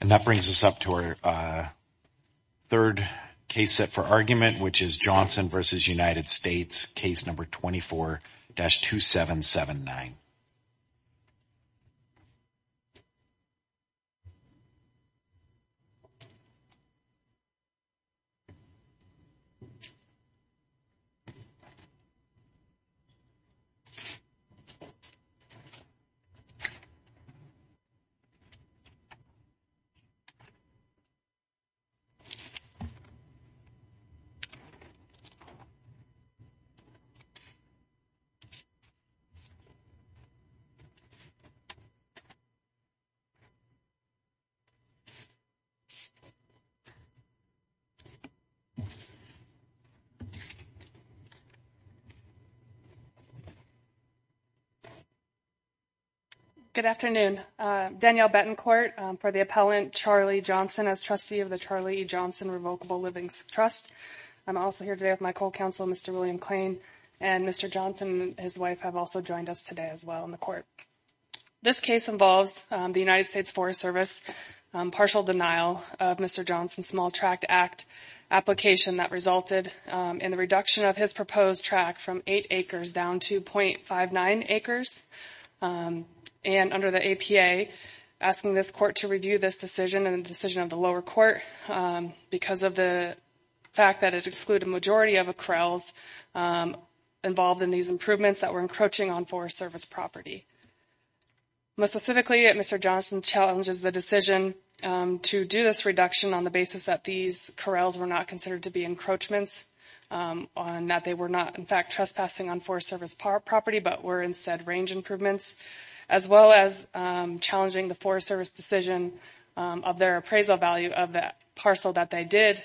and that brings us up to our third case set for argument which is Johnson versus United States case number 24-2779 for the appellant Charlie Johnson as trustee of the Charlie Johnson Revocable Livings Trust. I'm also here today with my co-counsel Mr. William Klain and Mr. Johnson and his wife have also joined us today as well in the court. This case involves the United States Forest Service partial denial of Mr. Johnson's Small Tract Act application that resulted in the reduction of his proposed track from 8 acres down to 0.59 acres and under the APA asking this court to review this decision and the decision of the lower court because of the fact that it excluded a majority of corrals involved in these improvements that were encroaching on Forest Service property. Most specifically, Mr. Johnson challenges the decision to do this reduction on the basis that these corrals were not considered to be encroachments on that they were not in fact trespassing on Forest Service property but were instead range improvements as well as challenging the Forest Service decision of their appraisal value of that parcel that they did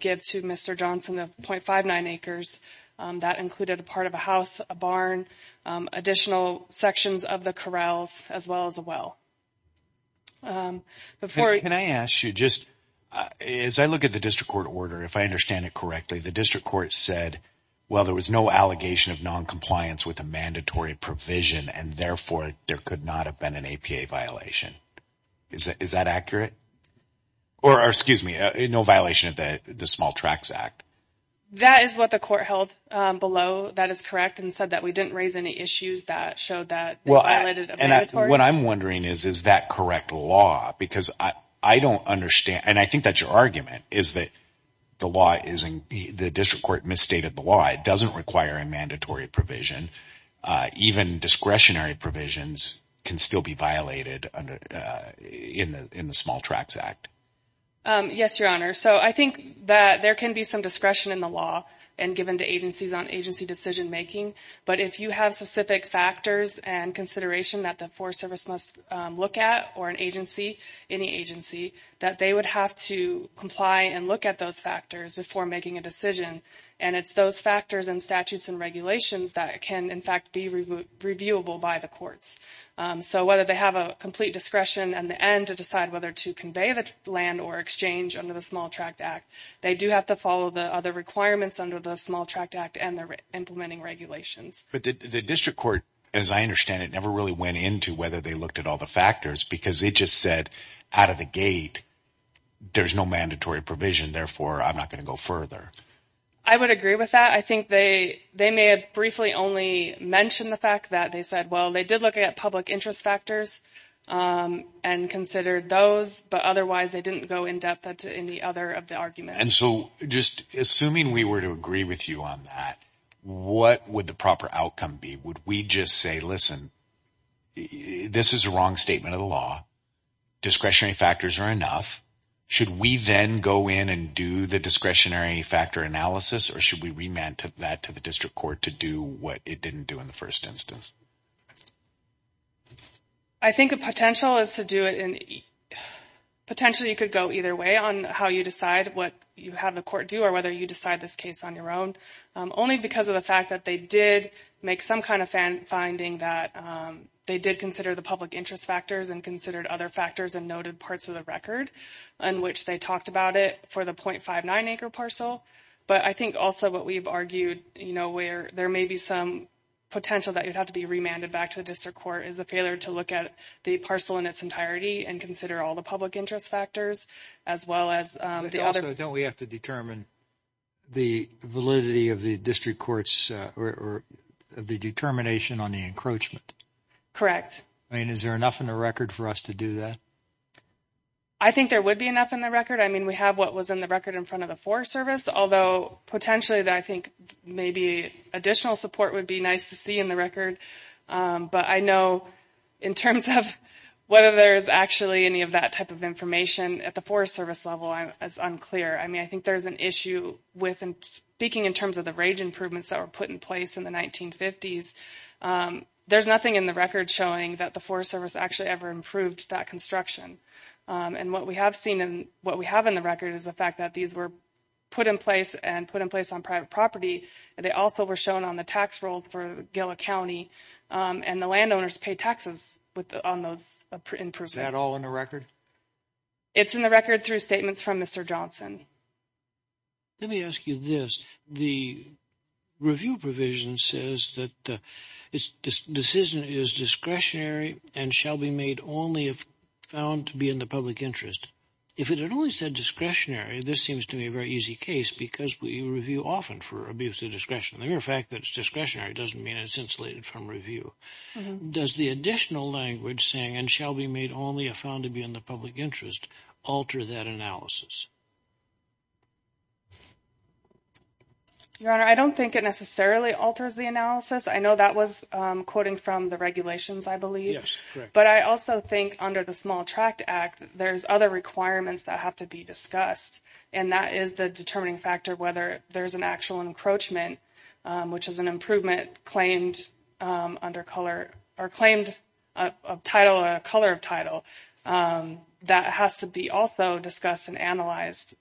give to Mr. Johnson of 0.59 acres that included a part of a house, a barn, additional sections of corrals as well as a well. Can I ask you just as I look at the district court order if I understand it correctly the district court said well there was no allegation of non-compliance with a mandatory provision and therefore there could not have been an APA violation is that accurate or excuse me no violation of the Small Tracts Act? That is what the court held below that is and said that we didn't raise any issues that showed that well and what I'm wondering is is that correct law because I don't understand and I think that's your argument is that the law is in the district court misstated the law it doesn't require a mandatory provision even discretionary provisions can still be violated under in the in the Small Tracts Act. Yes your honor so I think that there can be some discretion in the law and given to agencies on agency decision making but if you have specific factors and consideration that the Forest Service must look at or an agency any agency that they would have to comply and look at those factors before making a decision and it's those factors and statutes and regulations that can in fact be reviewable by the courts so whether they have a complete discretion and the end to decide whether to convey the land or exchange under the Small Tract Act they do have to follow the other requirements under the Small Tract Act and the implementing regulations. But the district court as I understand it never really went into whether they looked at all the factors because it just said out of the gate there's no mandatory provision therefore I'm not going to go further. I would agree with that I think they they may have briefly only mentioned the fact that they said well they did look at public interest factors and considered those but otherwise they didn't go in depth into any other of the arguments. And so just assuming we were to agree with you on that what would the proper outcome be would we just say listen this is a wrong statement of the law discretionary factors are enough should we then go in and do the discretionary factor analysis or should we remand that to the district court to do what it didn't do in the you could go either way on how you decide what you have the court do or whether you decide this case on your own only because of the fact that they did make some kind of fan finding that they did consider the public interest factors and considered other factors and noted parts of the record in which they talked about it for the 0.59 acre parcel but I think also what we've argued you know where there may be some potential that you'd have to be remanded back to the district court is a failure to look at the parcel in its entirety and consider all the public interest factors as well as the other don't we have to determine the validity of the district courts of the determination on the encroachment correct I mean is there enough in the record for us to do that I think there would be enough in the record I mean we have what was in the record in front of the forest service although potentially that I think maybe additional support would be nice to record but I know in terms of whether there's actually any of that type of information at the forest service level I'm as unclear I mean I think there's an issue with and speaking in terms of the rage improvements that were put in place in the 1950s there's nothing in the record showing that the forest service actually ever improved that construction and what we have seen and what we have in the record is the fact that these were put in place and put in place on private property they also were shown on the tax rolls for Gila County and the landowners pay taxes with on those in person at all in the record it's in the record through statements from Mr. Johnson let me ask you this the review provision says that the decision is discretionary and shall be made only if found to be in the public interest if it had only said discretionary this seems to be a very easy case because we review often for abuse of discretion the mere fact that it's discretionary doesn't mean it's insulated from review does the additional language saying and shall be made only if found to be in the public interest alter that analysis your honor I don't think it necessarily alters the analysis I know that was quoting from the regulations I believe but I also think under the small tract act there's other requirements that have to be discussed and that is the determining factor whether there's an actual encroachment which is an improvement claimed under color or claimed a title a color of title that has to be also discussed and analyzed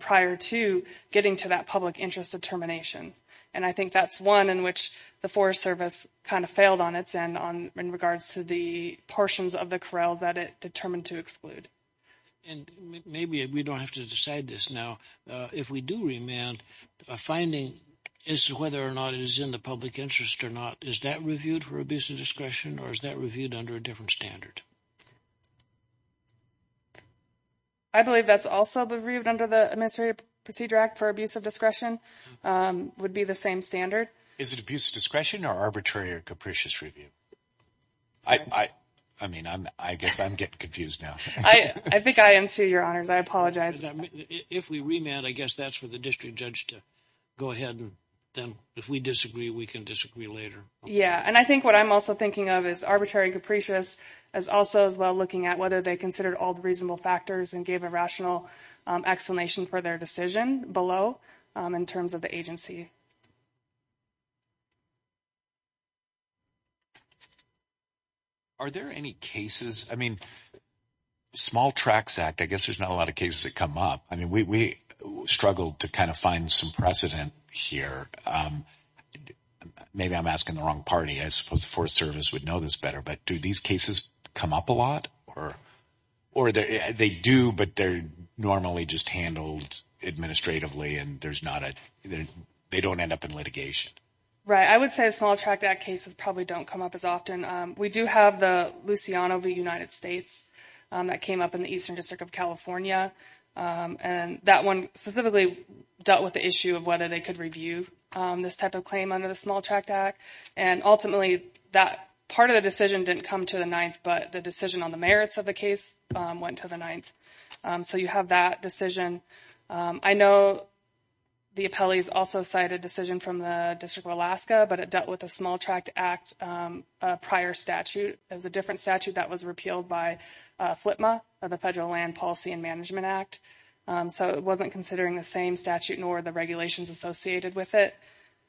prior to getting to that public interest determination and I think that's one in which the forest service kind of failed on its end on in regards to the portions of the corral that it determined to exclude and maybe we don't have to decide this now if we do remand a finding is whether or not it is in the public interest or not is that reviewed for abuse of discretion or is that reviewed under a different standard I believe that's also reviewed under the administrative procedure act for abuse of discretion um would be the same standard is it abuse of discretion or arbitrary or capricious review I I mean I'm I guess I'm getting confused now I I think I am too your honors I apologize if we remand I guess that's for the district judge to go ahead and then if we disagree we can disagree later yeah and I think what I'm also thinking of is arbitrary capricious as also as well looking at whether they considered all the reasonable factors and gave a rational explanation for their decision below in terms of the agency are there any cases I mean small tracks act I guess there's not a lot of cases that come up I mean we we struggled to kind of find some precedent here um maybe I'm asking the wrong party I suppose the forest service would know this better but do these cases come up a lot or or they do but they're normally just handled administratively and there's not a they don't end up in litigation right I would say a small track that cases probably don't come up as often we do have the luciano v united states that came up in the eastern district of california and that one specifically dealt with the issue of whether they could review this type of claim under the small tract act and ultimately that part of the decision didn't come to the ninth but the decision on the merits of the case went to the ninth so you have that decision I know the appellees also cite a decision from the district of alaska but it dealt with a small tract act a prior statute there's a different statute that was repealed by flipma of the federal land policy and management act so it wasn't considering the same statute nor the regulations associated with it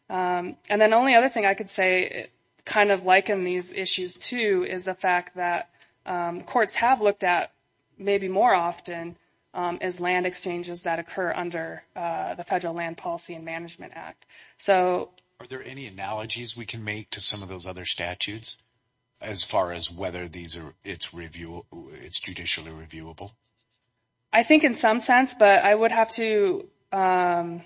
and then the only other thing I could say kind of liken these issues to is the fact that courts have looked at maybe more often as land exchanges that occur under the federal land policy and management act so are there any analogies we can make to some of those other statutes as far as whether these are it's review it's judicially reviewable I think in some sense but I would have to um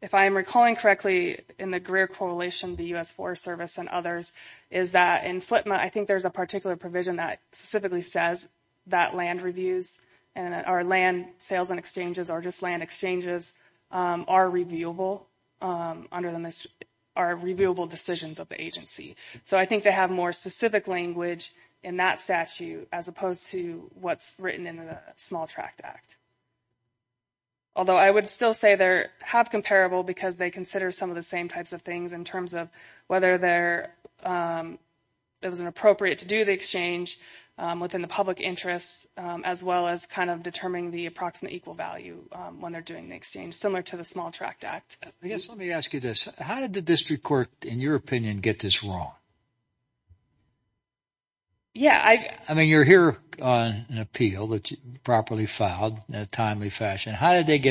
if I am recalling correctly in the correlation the U.S. Forest Service and others is that in flipma I think there's a particular provision that specifically says that land reviews and our land sales and exchanges are just land exchanges are reviewable under the are reviewable decisions of the agency so I think they have more specific language in that statute as opposed to what's written in the small tract act although I would still say they're have comparable because they consider some of the same types of things in terms of whether they're it was an appropriate to do the exchange within the public interests as well as kind of determining the approximate equal value when they're doing the exchange similar to the small tract act I guess let me ask you this how did the district court in your opinion get this wrong yeah I mean you're here on an appeal that's properly filed in a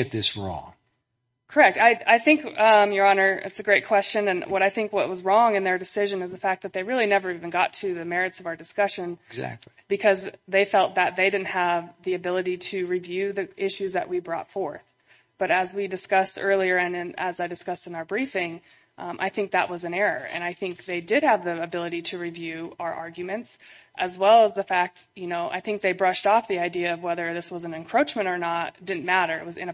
correct I I think um your honor it's a great question and what I think what was wrong in their decision is the fact that they really never even got to the merits of our discussion exactly because they felt that they didn't have the ability to review the issues that we brought forth but as we discussed earlier and as I discussed in our briefing I think that was an error and I think they did have the ability to review our arguments as well as the fact you know I think they brushed off the idea of whether this was an encroachment or not didn't matter it was in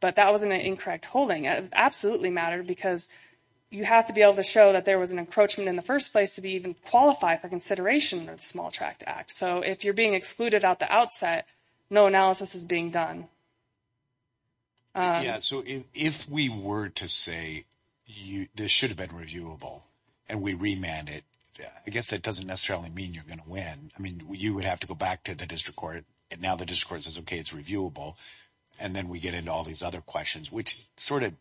but that wasn't an incorrect holding it absolutely mattered because you have to be able to show that there was an encroachment in the first place to be even qualified for consideration or the small tract act so if you're being excluded out the outset no analysis is being done yeah so if we were to say you this should have been reviewable and we remand it I guess that doesn't necessarily mean you're going to win I mean you would have to go back to the district court and now the district court says okay it's reviewable and then we get into all these other questions which sort of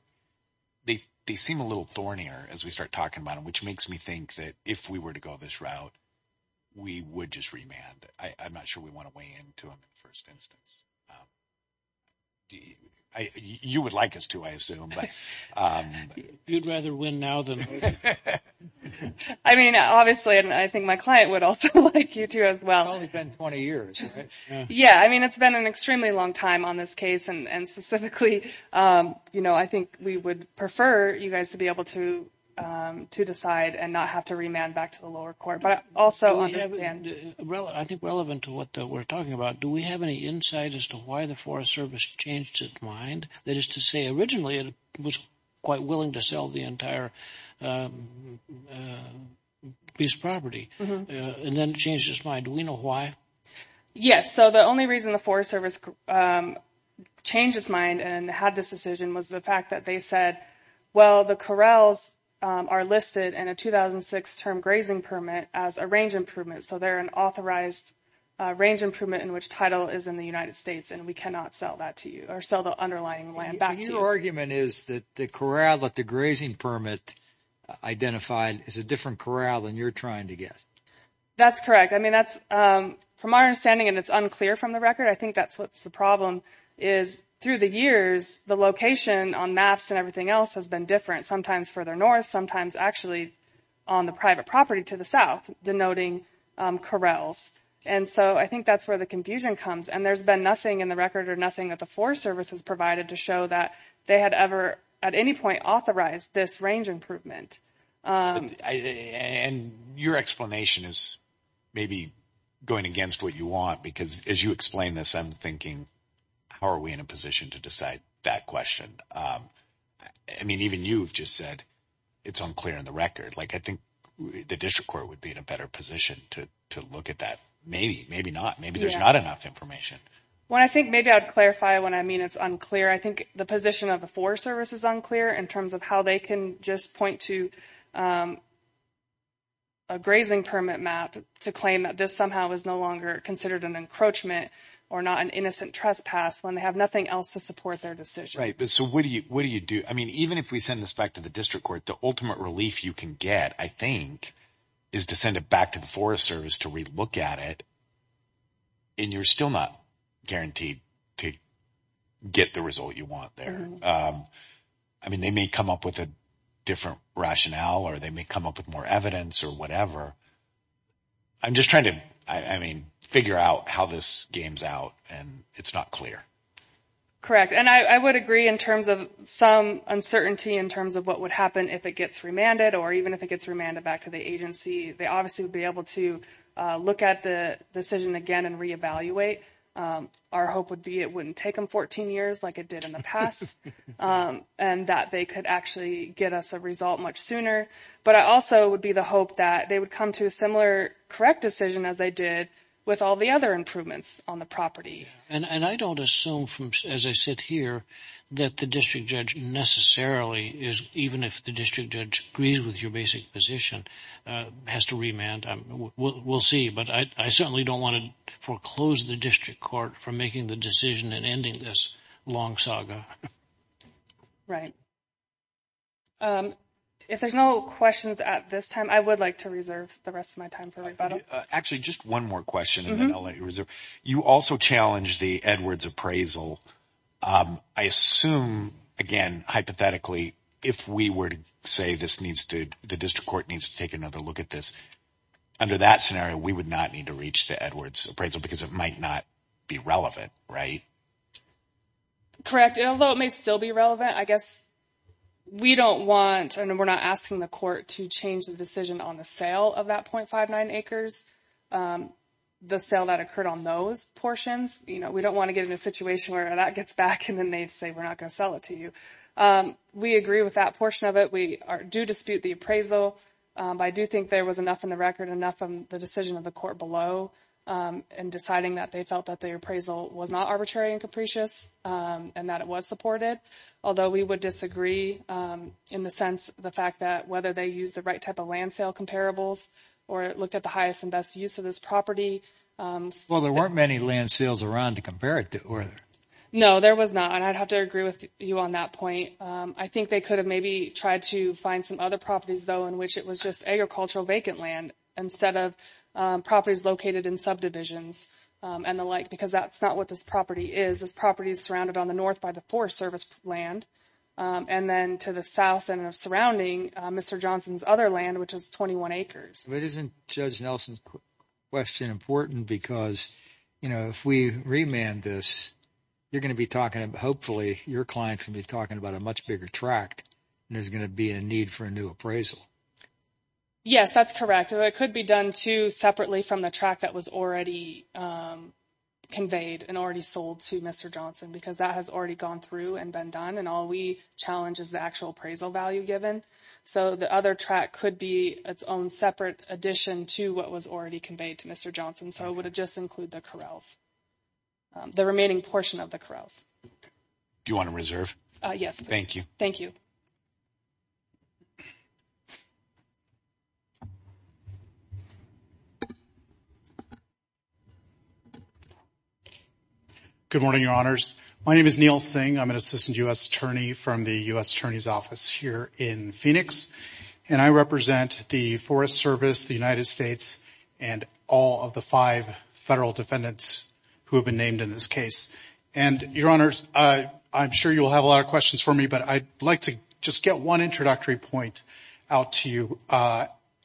they they seem a little thornier as we start talking about them which makes me think that if we were to go this route we would just remand I'm not sure we want to weigh in to them in the first instance you would like us to I assume but you'd rather win now than I mean obviously and I think my client would also like you to as well it's only been 20 years yeah I mean it's been an extremely long time on this case and specifically you know I think we would prefer you guys to be able to to decide and not have to remand back to the lower court but also understand well I think relevant to what we're talking about do we have any insight as to why the Forest Service changed its mind that is to say originally it was quite willing to sell the entire piece of property and then it changed its mind do we know why yes so the only reason the Forest Service changed its mind and had this decision was the fact that they said well the corrals are listed in a 2006 term grazing permit as a range improvement so they're an authorized range improvement in which title is in the United States and we cannot sell that to you sell the underlying land back to you argument is that the corral that the grazing permit identified is a different corral than you're trying to get that's correct I mean that's from our understanding and it's unclear from the record I think that's what's the problem is through the years the location on maps and everything else has been different sometimes further north sometimes actually on the private property to the south denoting corrals and so I think that's where the confusion comes and there's been nothing in the record or nothing that the services provided to show that they had ever at any point authorized this range improvement and your explanation is maybe going against what you want because as you explain this I'm thinking how are we in a position to decide that question I mean even you've just said it's unclear in the record like I think the district court would be in a better position to to look at that maybe maybe maybe there's not enough information well I think maybe I'd clarify when I mean it's unclear I think the position of the forest service is unclear in terms of how they can just point to a grazing permit map to claim that this somehow is no longer considered an encroachment or not an innocent trespass when they have nothing else to support their decision right but so what do you what do you do I mean even if we send this back to the district court the ultimate relief you can get I think is to send it back to the forest service to relook at it and you're still not guaranteed to get the result you want there I mean they may come up with a different rationale or they may come up with more evidence or whatever I'm just trying to I mean figure out how this games out and it's not clear correct and I would agree in terms of some uncertainty in terms of what would happen if it gets remanded or even if it gets remanded back to the agency they obviously would be able to look at the decision again and reevaluate our hope would be it wouldn't take them 14 years like it did in the past and that they could actually get us a result much sooner but I also would be the hope that they would come to a similar correct decision as they did with all the other improvements on the property and and I don't assume from as I sit here that the district judge necessarily is even if the district judge agrees with your basic position has to remand we'll see but I certainly don't want to foreclose the district court from making the decision and ending this long saga right if there's no questions at this time I would like to reserve the rest of my time for rebuttal actually just one more question and then I'll let you reserve you also challenge the Edwards appraisal I assume again hypothetically if we were to say this needs to the district court needs to take another look at this under that scenario we would not need to reach the Edwards appraisal because it might not be relevant right correct although it may still be relevant I guess we don't want and we're not asking the court to change the decision on the of that 0.59 acres the sale that occurred on those portions you know we don't want to get in a situation where that gets back and then they'd say we're not going to sell it to you we agree with that portion of it we are do dispute the appraisal but I do think there was enough in the record enough of the decision of the court below and deciding that they felt that the appraisal was not arbitrary and capricious and that it was supported although we would disagree in the sense the fact that whether they use the right type of land sale comparables or it looked at the highest and best use of this property well there weren't many land sales around to compare it to or no there was not and I'd have to agree with you on that point I think they could have maybe tried to find some other properties though in which it was just agricultural vacant land instead of properties located in subdivisions and the like because that's not what this property is this property is surrounded on the north by the forest service land and then to the south and surrounding Mr. Johnson's other land which is 21 acres it isn't Judge Nelson's question important because you know if we remand this you're going to be talking hopefully your clients will be talking about a much bigger tract and there's going to be a need for a new appraisal yes that's correct it could be done to separately from the track that was already conveyed and already sold to Mr. Johnson because that has already gone through and been done and all we challenge is the actual appraisal value given so the other track could be its own separate addition to what was already conveyed to Mr. Johnson so would it just include the corrals the remaining portion of the corrals do you want to reserve yes thank you thank you good morning your honors my name is Neil Singh I'm an assistant U.S. attorney from the U.S. Attorney's Office here in Phoenix and I represent the Forest Service the United States and all of the five federal defendants who have been named in this case and your honors I'm sure you'll have a lot of questions for me but I'd like to just get one introductory point out to you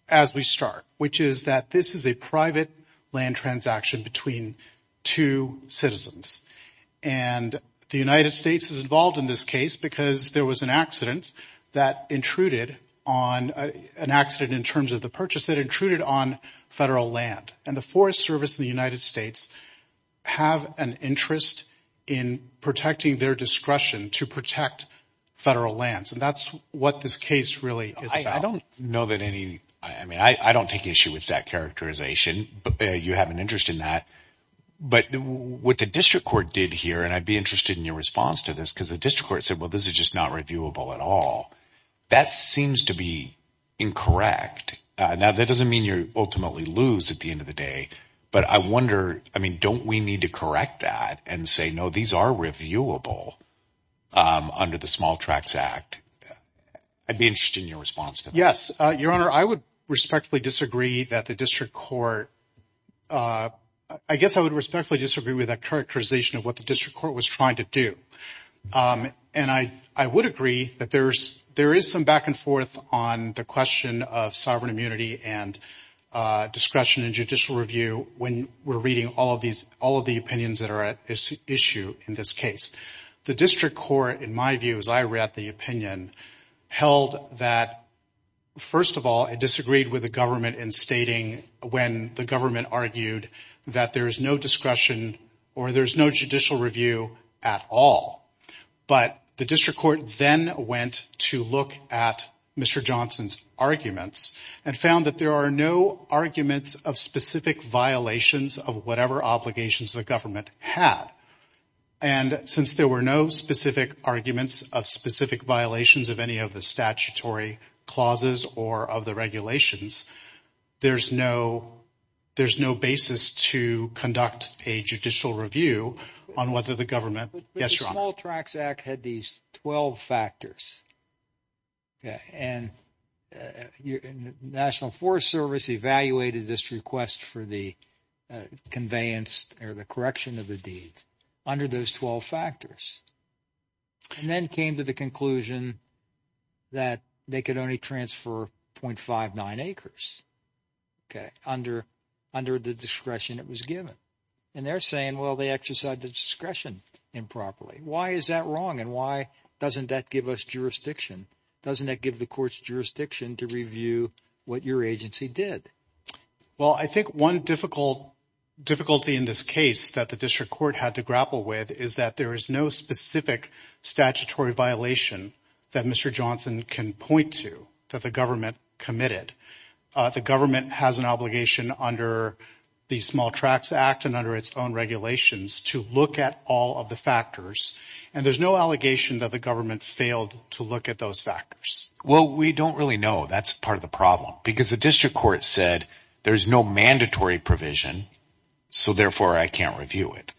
as we start which is that this is a private land transaction between two citizens and the United States is involved in this case because there was an accident that intruded on an accident in terms of the service in the United States have an interest in protecting their discretion to protect federal lands and that's what this case really is I don't know that any I mean I don't take issue with that characterization but you have an interest in that but what the district court did here and I'd be interested in your response to this because the district court said well this is just not reviewable at all that seems to be incorrect now that doesn't mean you ultimately lose at the end of the day but I wonder I mean don't we need to correct that and say no these are reviewable under the small tracts act I'd be interested in your response to yes your honor I would respectfully disagree that the district court I guess I would respectfully disagree with that characterization of what the district court was trying to do and I would agree that there's there is some back and when we're reading all of these all of the opinions that are at issue in this case the district court in my view as I read the opinion held that first of all it disagreed with the government in stating when the government argued that there is no discretion or there's no judicial review at all but the district court then went to look at Mr. Johnson's arguments and found that there are no arguments of specific violations of whatever obligations the government had and since there were no specific arguments of specific violations of any of the statutory clauses or of the regulations there's no there's no basis to conduct a judicial review on whether the government small tracts act had these 12 factors okay and national forest service evaluated this request for the conveyance or the correction of the deeds under those 12 factors and then came to the conclusion that they could only transfer 0.59 acres okay under under the discretion it was given and they're saying well they exercise the discretion improperly why is that wrong and why doesn't that give us jurisdiction doesn't that give the court's jurisdiction to review what your agency did well I think one difficult difficulty in this case that the district court had to grapple with is that there is no specific statutory violation that Mr. Johnson can point to the government committed the government has an obligation under the small tracts act and under its own regulations to look at all of the factors and there's no allegation that the government failed to look at those factors well we don't really know that's part of the problem because the district court said there's no mandatory provision so therefore I can't review it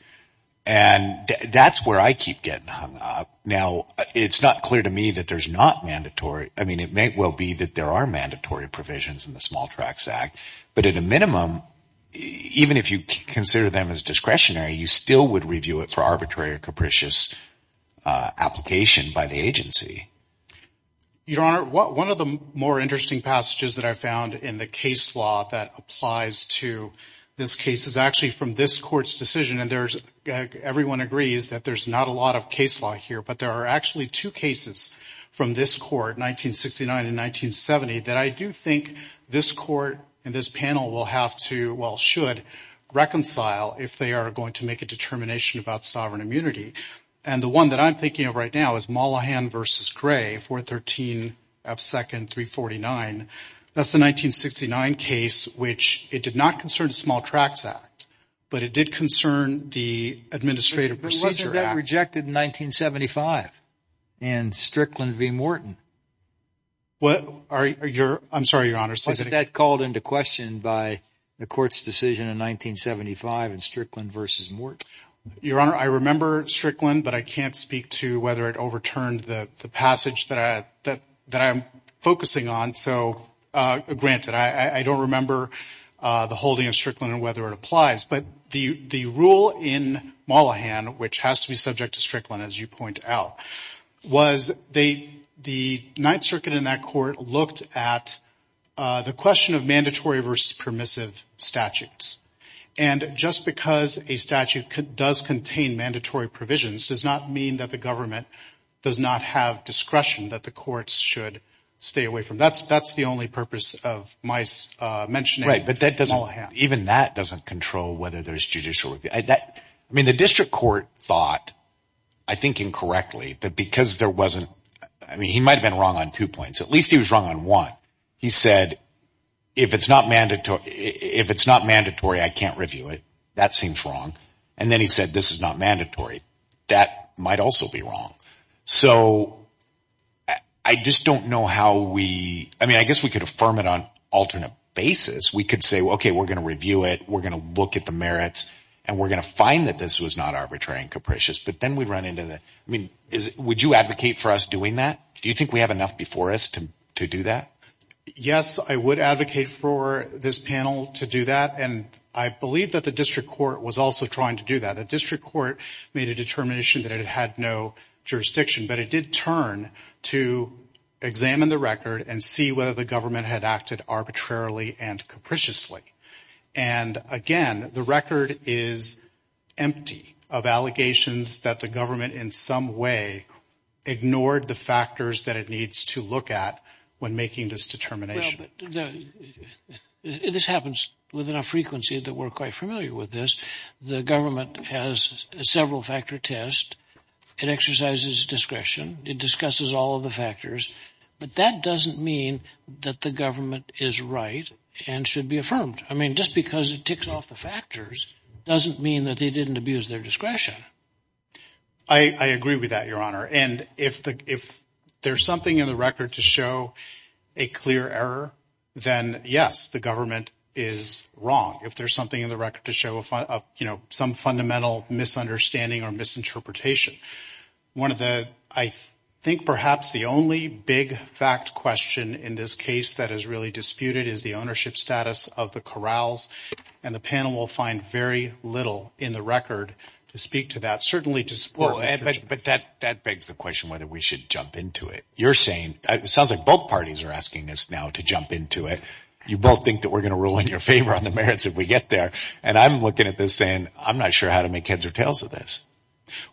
and that's where I keep getting hung up now it's not clear to me that there's not mandatory I mean it may well be that there are mandatory provisions in the small tracts act but at a minimum even if you consider them as discretionary you still would review it for arbitrary or capricious application by the agency your honor what one of the more interesting passages that I found in the case law that applies to this case is actually from this court's decision and there's everyone agrees that there's not a lot of case law here but there are actually two cases from this court 1969 and 1970 that I do think this court and this panel will have to well should reconcile if they are going to make a determination about sovereign immunity and the one that I'm thinking of right now is Mollahan versus Gray 413 F second 349 that's the 1969 case which it did not concern the small tracts act but it did concern the administrative procedure rejected in 1975 and Strickland v Morton what are your I'm sorry your honor that called into question by the court's decision in 1975 and Strickland versus Morton your honor I remember Strickland but I can't speak to whether it overturned the the passage that I that that I'm focusing on so uh granted I I don't remember uh the holding of Strickland and whether it applies but the the rule in Mollahan which has to be subject to Strickland as you point out was they the Ninth Circuit in that court looked at uh the question of mandatory versus permissive statutes and just because a statute does contain mandatory provisions does not mean that the government does not have discretion that the courts should stay away from that's that's the only purpose of my uh mentioning right but that doesn't even that doesn't control whether there's judicial review that I mean the district court thought I think incorrectly that because there wasn't I mean he might have been wrong on two points at least he was wrong on one he said if it's not mandatory if it's not mandatory I can't review it that seems wrong and then he said this is not mandatory that might also be wrong so I just don't know how we I mean I guess we could affirm it on alternate basis we could say okay we're going to review it we're going to look at the merits and we're going to find that this was not arbitrary and capricious but then we run into the I mean is would you advocate for us doing that do you think we have enough before us to to do that yes I would advocate for this panel to do that and I believe that the district court was also trying to do that the district court made a jurisdiction but it did turn to examine the record and see whether the government had acted arbitrarily and capriciously and again the record is empty of allegations that the government in some way ignored the factors that it needs to look at when making this determination this happens with enough frequency that we're quite familiar with this the government has several factor test it exercises discretion it discusses all of the factors but that doesn't mean that the government is right and should be affirmed I mean just because it ticks off the factors doesn't mean that they didn't abuse their discretion I agree with that your honor and if the if there's something in the record to show a clear error then yes the government is wrong if there's fundamental misunderstanding or misinterpretation one of the I think perhaps the only big fact question in this case that is really disputed is the ownership status of the corrals and the panel will find very little in the record to speak to that certainly to support but that that begs the question whether we should jump into it you're saying it sounds like both parties are asking us now to jump into it you both think that we're going to rule in your favor on the merits if we get there and I'm looking at this saying I'm not sure how to make heads or tails of this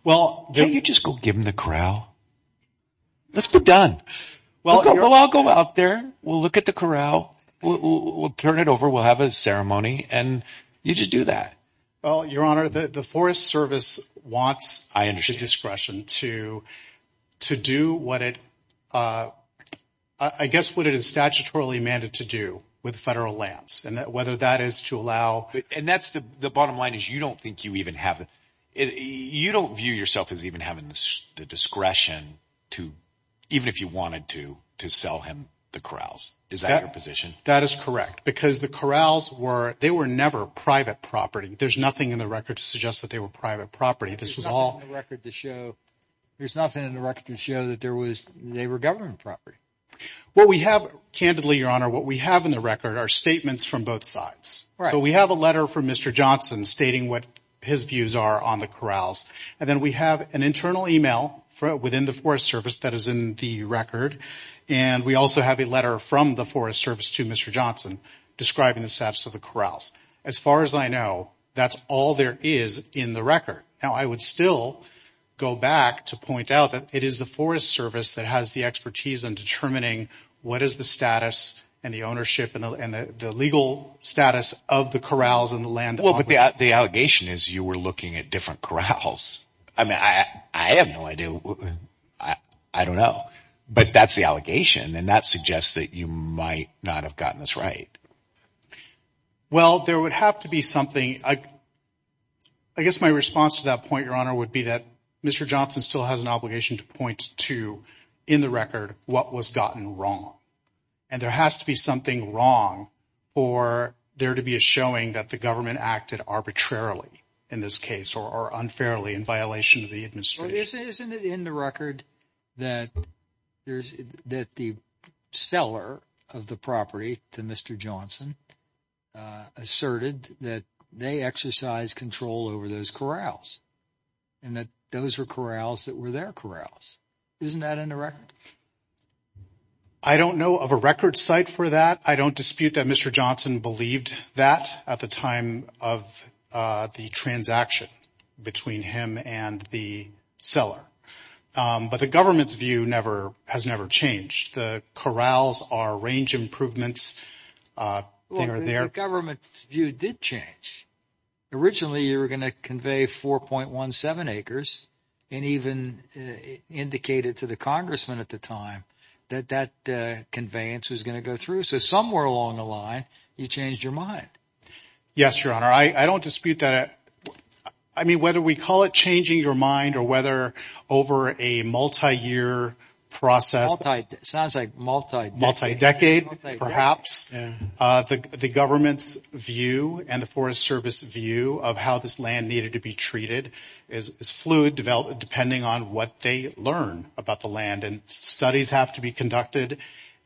well don't you just go give him the corral let's be done well I'll go out there we'll look at the corral we'll turn it over we'll have a ceremony and you just do that well your honor the forest service wants I understand discretion to to do what it uh I guess what it is statutorily mandated to do with federal lands and that whether that is to allow and that's the the bottom line is you don't think you even have it you don't view yourself as even having the discretion to even if you wanted to to sell him the corrals is that your position that is correct because the corrals were they were never private property there's nothing in the record to suggest that they were private property this was all record to show there's nothing in the record to show that there was they were government property what we have candidly your honor what we have in the record are statements from both sides so we have a letter from mr johnson stating what his views are on the corrals and then we have an internal email from within the forest service that is in the record and we also have a letter from the forest service to mr johnson describing the status of the corrals as far as I know that's all there is in the record now I would still go back to point out that it is the forest service that has the expertise on determining what is the status and the ownership and the legal status of the corrals and the land well but the the allegation is you were looking at different corrals I mean I have no idea I don't know but that's the allegation and that suggests that you might not have gotten this right well there would have to be something I I guess my response to that point your honor would be that mr johnson still has an obligation to point to in the record what was gotten wrong and there has to be something wrong for there to be a showing that the government acted arbitrarily in this case or unfairly in violation of the administration isn't it in the record that there's that the seller of the property to mr johnson uh asserted that they exercise control over those corrals and that those were corrals that were their corrals isn't that in the record I don't know of a record site for that I don't dispute that mr johnson believed that at the time of the transaction between him and the seller but the government's view never has never changed the corrals are range improvements uh they are their government's view did change originally you were going to convey 4.17 acres and even indicated to the congressman at the time that that conveyance was going to go through so somewhere along the line you changed your mind yes your honor I I don't dispute that I mean whether we call it changing your mind or whether over a multi-year process sounds like multi-multi-decade perhaps the government's view and the forest service view of how this land needed to be treated is fluid developed depending on what they learn about the land and studies have to be conducted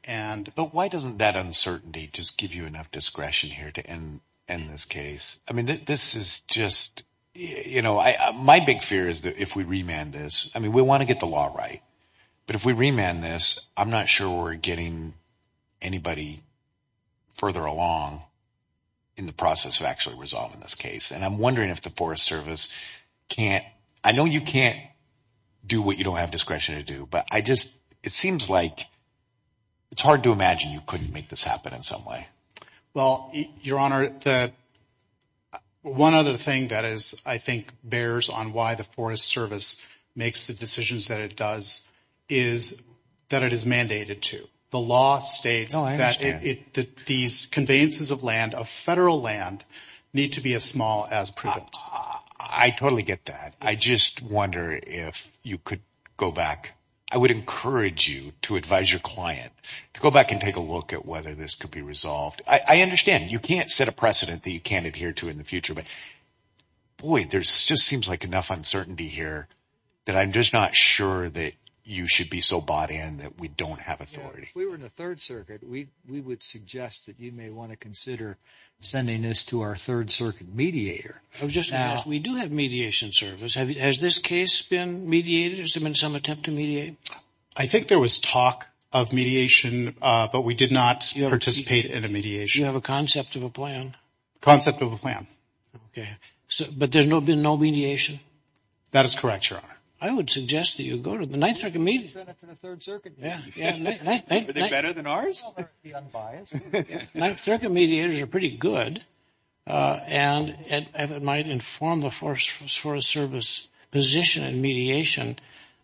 and but why doesn't that uncertainty just give you enough discretion here to end end this case I mean this is just you know I my big fear is that if we remand this I mean we want to get the law right but if we remand this I'm not sure we're getting anybody further along in the process of actually resolving this case and I'm wondering if the forest service can't I know you can't do what you don't have discretion to do but I just it seems like it's hard to imagine you couldn't make this happen in some way well your honor the one other thing that is I think bears on why the forest service makes the decisions that it does is that it is mandated to the law states that it that these conveyances of land of federal land need to be as small as I totally get that I just wonder if you could go back I would encourage you to advise your client to go back and take a look at whether this could be resolved I understand you can't set a precedent that you can't adhere to in the future but boy there's just seems like enough uncertainty here that I'm just not sure that you should be so bought in that we don't have authority if we were in the third circuit we we would suggest that you may want to consider sending this to our third circuit mediator I was just going to ask we do have mediation service have has this case been mediated has there been some attempt to mediate I think there was talk of mediation uh but we did not participate in a mediation you have a concept of a plan concept of a plan okay so but there's no been no mediation that is correct your honor I would suggest that you go to the ninth circuit meetings better than ours the unbiased mediators are pretty good uh and and it might inform the forest forest service position and mediation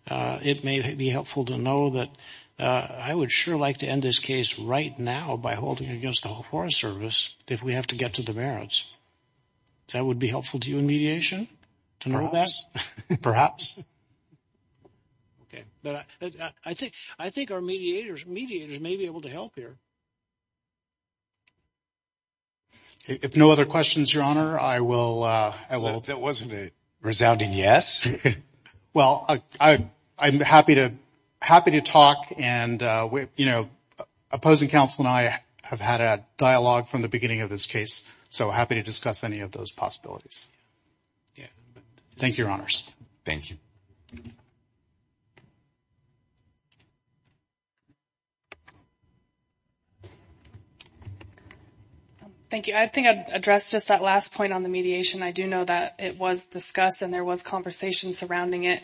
uh it may be helpful to know that uh I would sure like to end this case right now by holding against the whole forest service if we have to get to the merits that would be helpful to you in mediation to know that perhaps okay but I think I think our mediators mediators may be able to help here if no other questions your honor I will uh I will that wasn't a resounding yes well I I'm happy to happy to talk and uh you know opposing counsel and I have had a dialogue from the beginning of this case so happy to discuss any of those possibilities yeah thank you your honors thank you um thank you I think I addressed just that last point on the mediation I do know that it was discussed and there was conversation surrounding it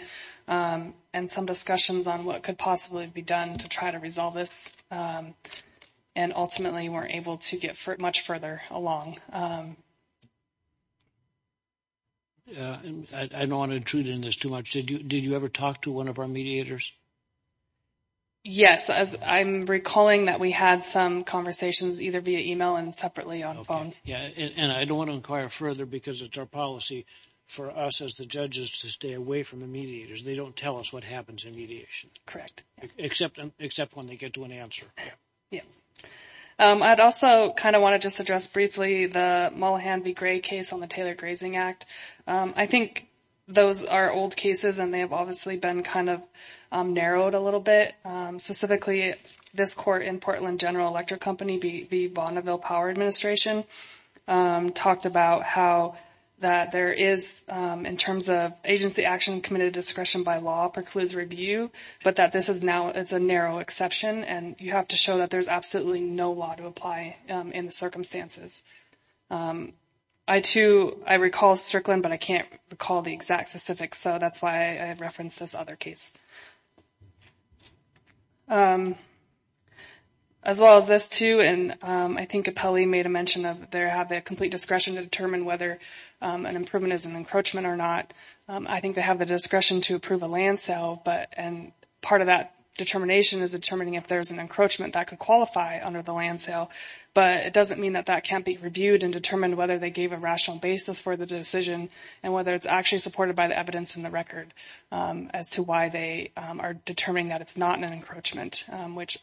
um and some discussions on what could possibly be done to try to resolve this um and ultimately we're able to get much further along um yeah I don't want to intrude in this too much did you did you ever talk to one of our mediators yes as I'm recalling that we had some conversations either via email and separately on phone yeah and I don't want to inquire further because it's our policy for us as the judges to stay away from the mediators they don't tell us what happens in mediation correct except except when they get to an answer yeah um I'd also kind of want to just address briefly the Mullahan v. Gray case on the Taylor Grazing Act um I think those are old cases and they have obviously been kind of um narrowed a little bit um specifically this court in Portland General Electric Company v. Bonneville Power Administration um talked about how that there is um in terms of agency action committed discretion by law precludes review but that this is now it's a narrow exception and you have to show that there's absolutely no law to apply um in the circumstances um I too I recall Strickland but I can't recall the exact specifics so that's why I referenced this other case um as well as this too and um I think Apelli made a mention of there have a complete discretion to determine whether um an improvement is an encroachment or not um I think they have the discretion to approve a land sale but and part of that determination is determining if there's an encroachment that could qualify under the land sale but it doesn't mean that that can't be reviewed and determined whether they gave a rational basis for the decision and whether it's actually supported by the evidence in the record as to why they are determining that it's not an encroachment which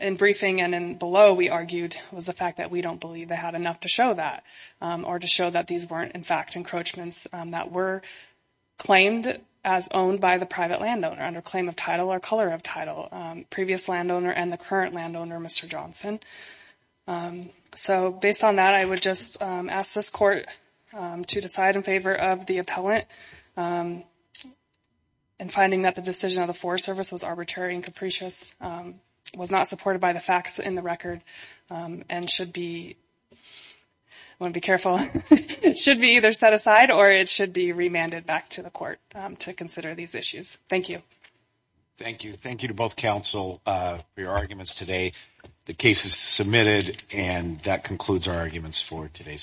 in briefing and in below we argued was the fact that we don't believe they had enough to show that or to show that these weren't in fact encroachments that were claimed as owned by the private landowner under claim of title or color of title previous landowner and the current landowner Mr. Johnson so based on that I would just ask this court to decide in favor of the appellant and finding that the decision of the Forest Service was arbitrary and capricious was not supported by the facts in the record and should be I want to be careful it should be either set aside or it should be remanded back to the court to consider these issues thank you thank you thank you to both counsel for your arguments today the case is submitted and that concludes our arguments for today's session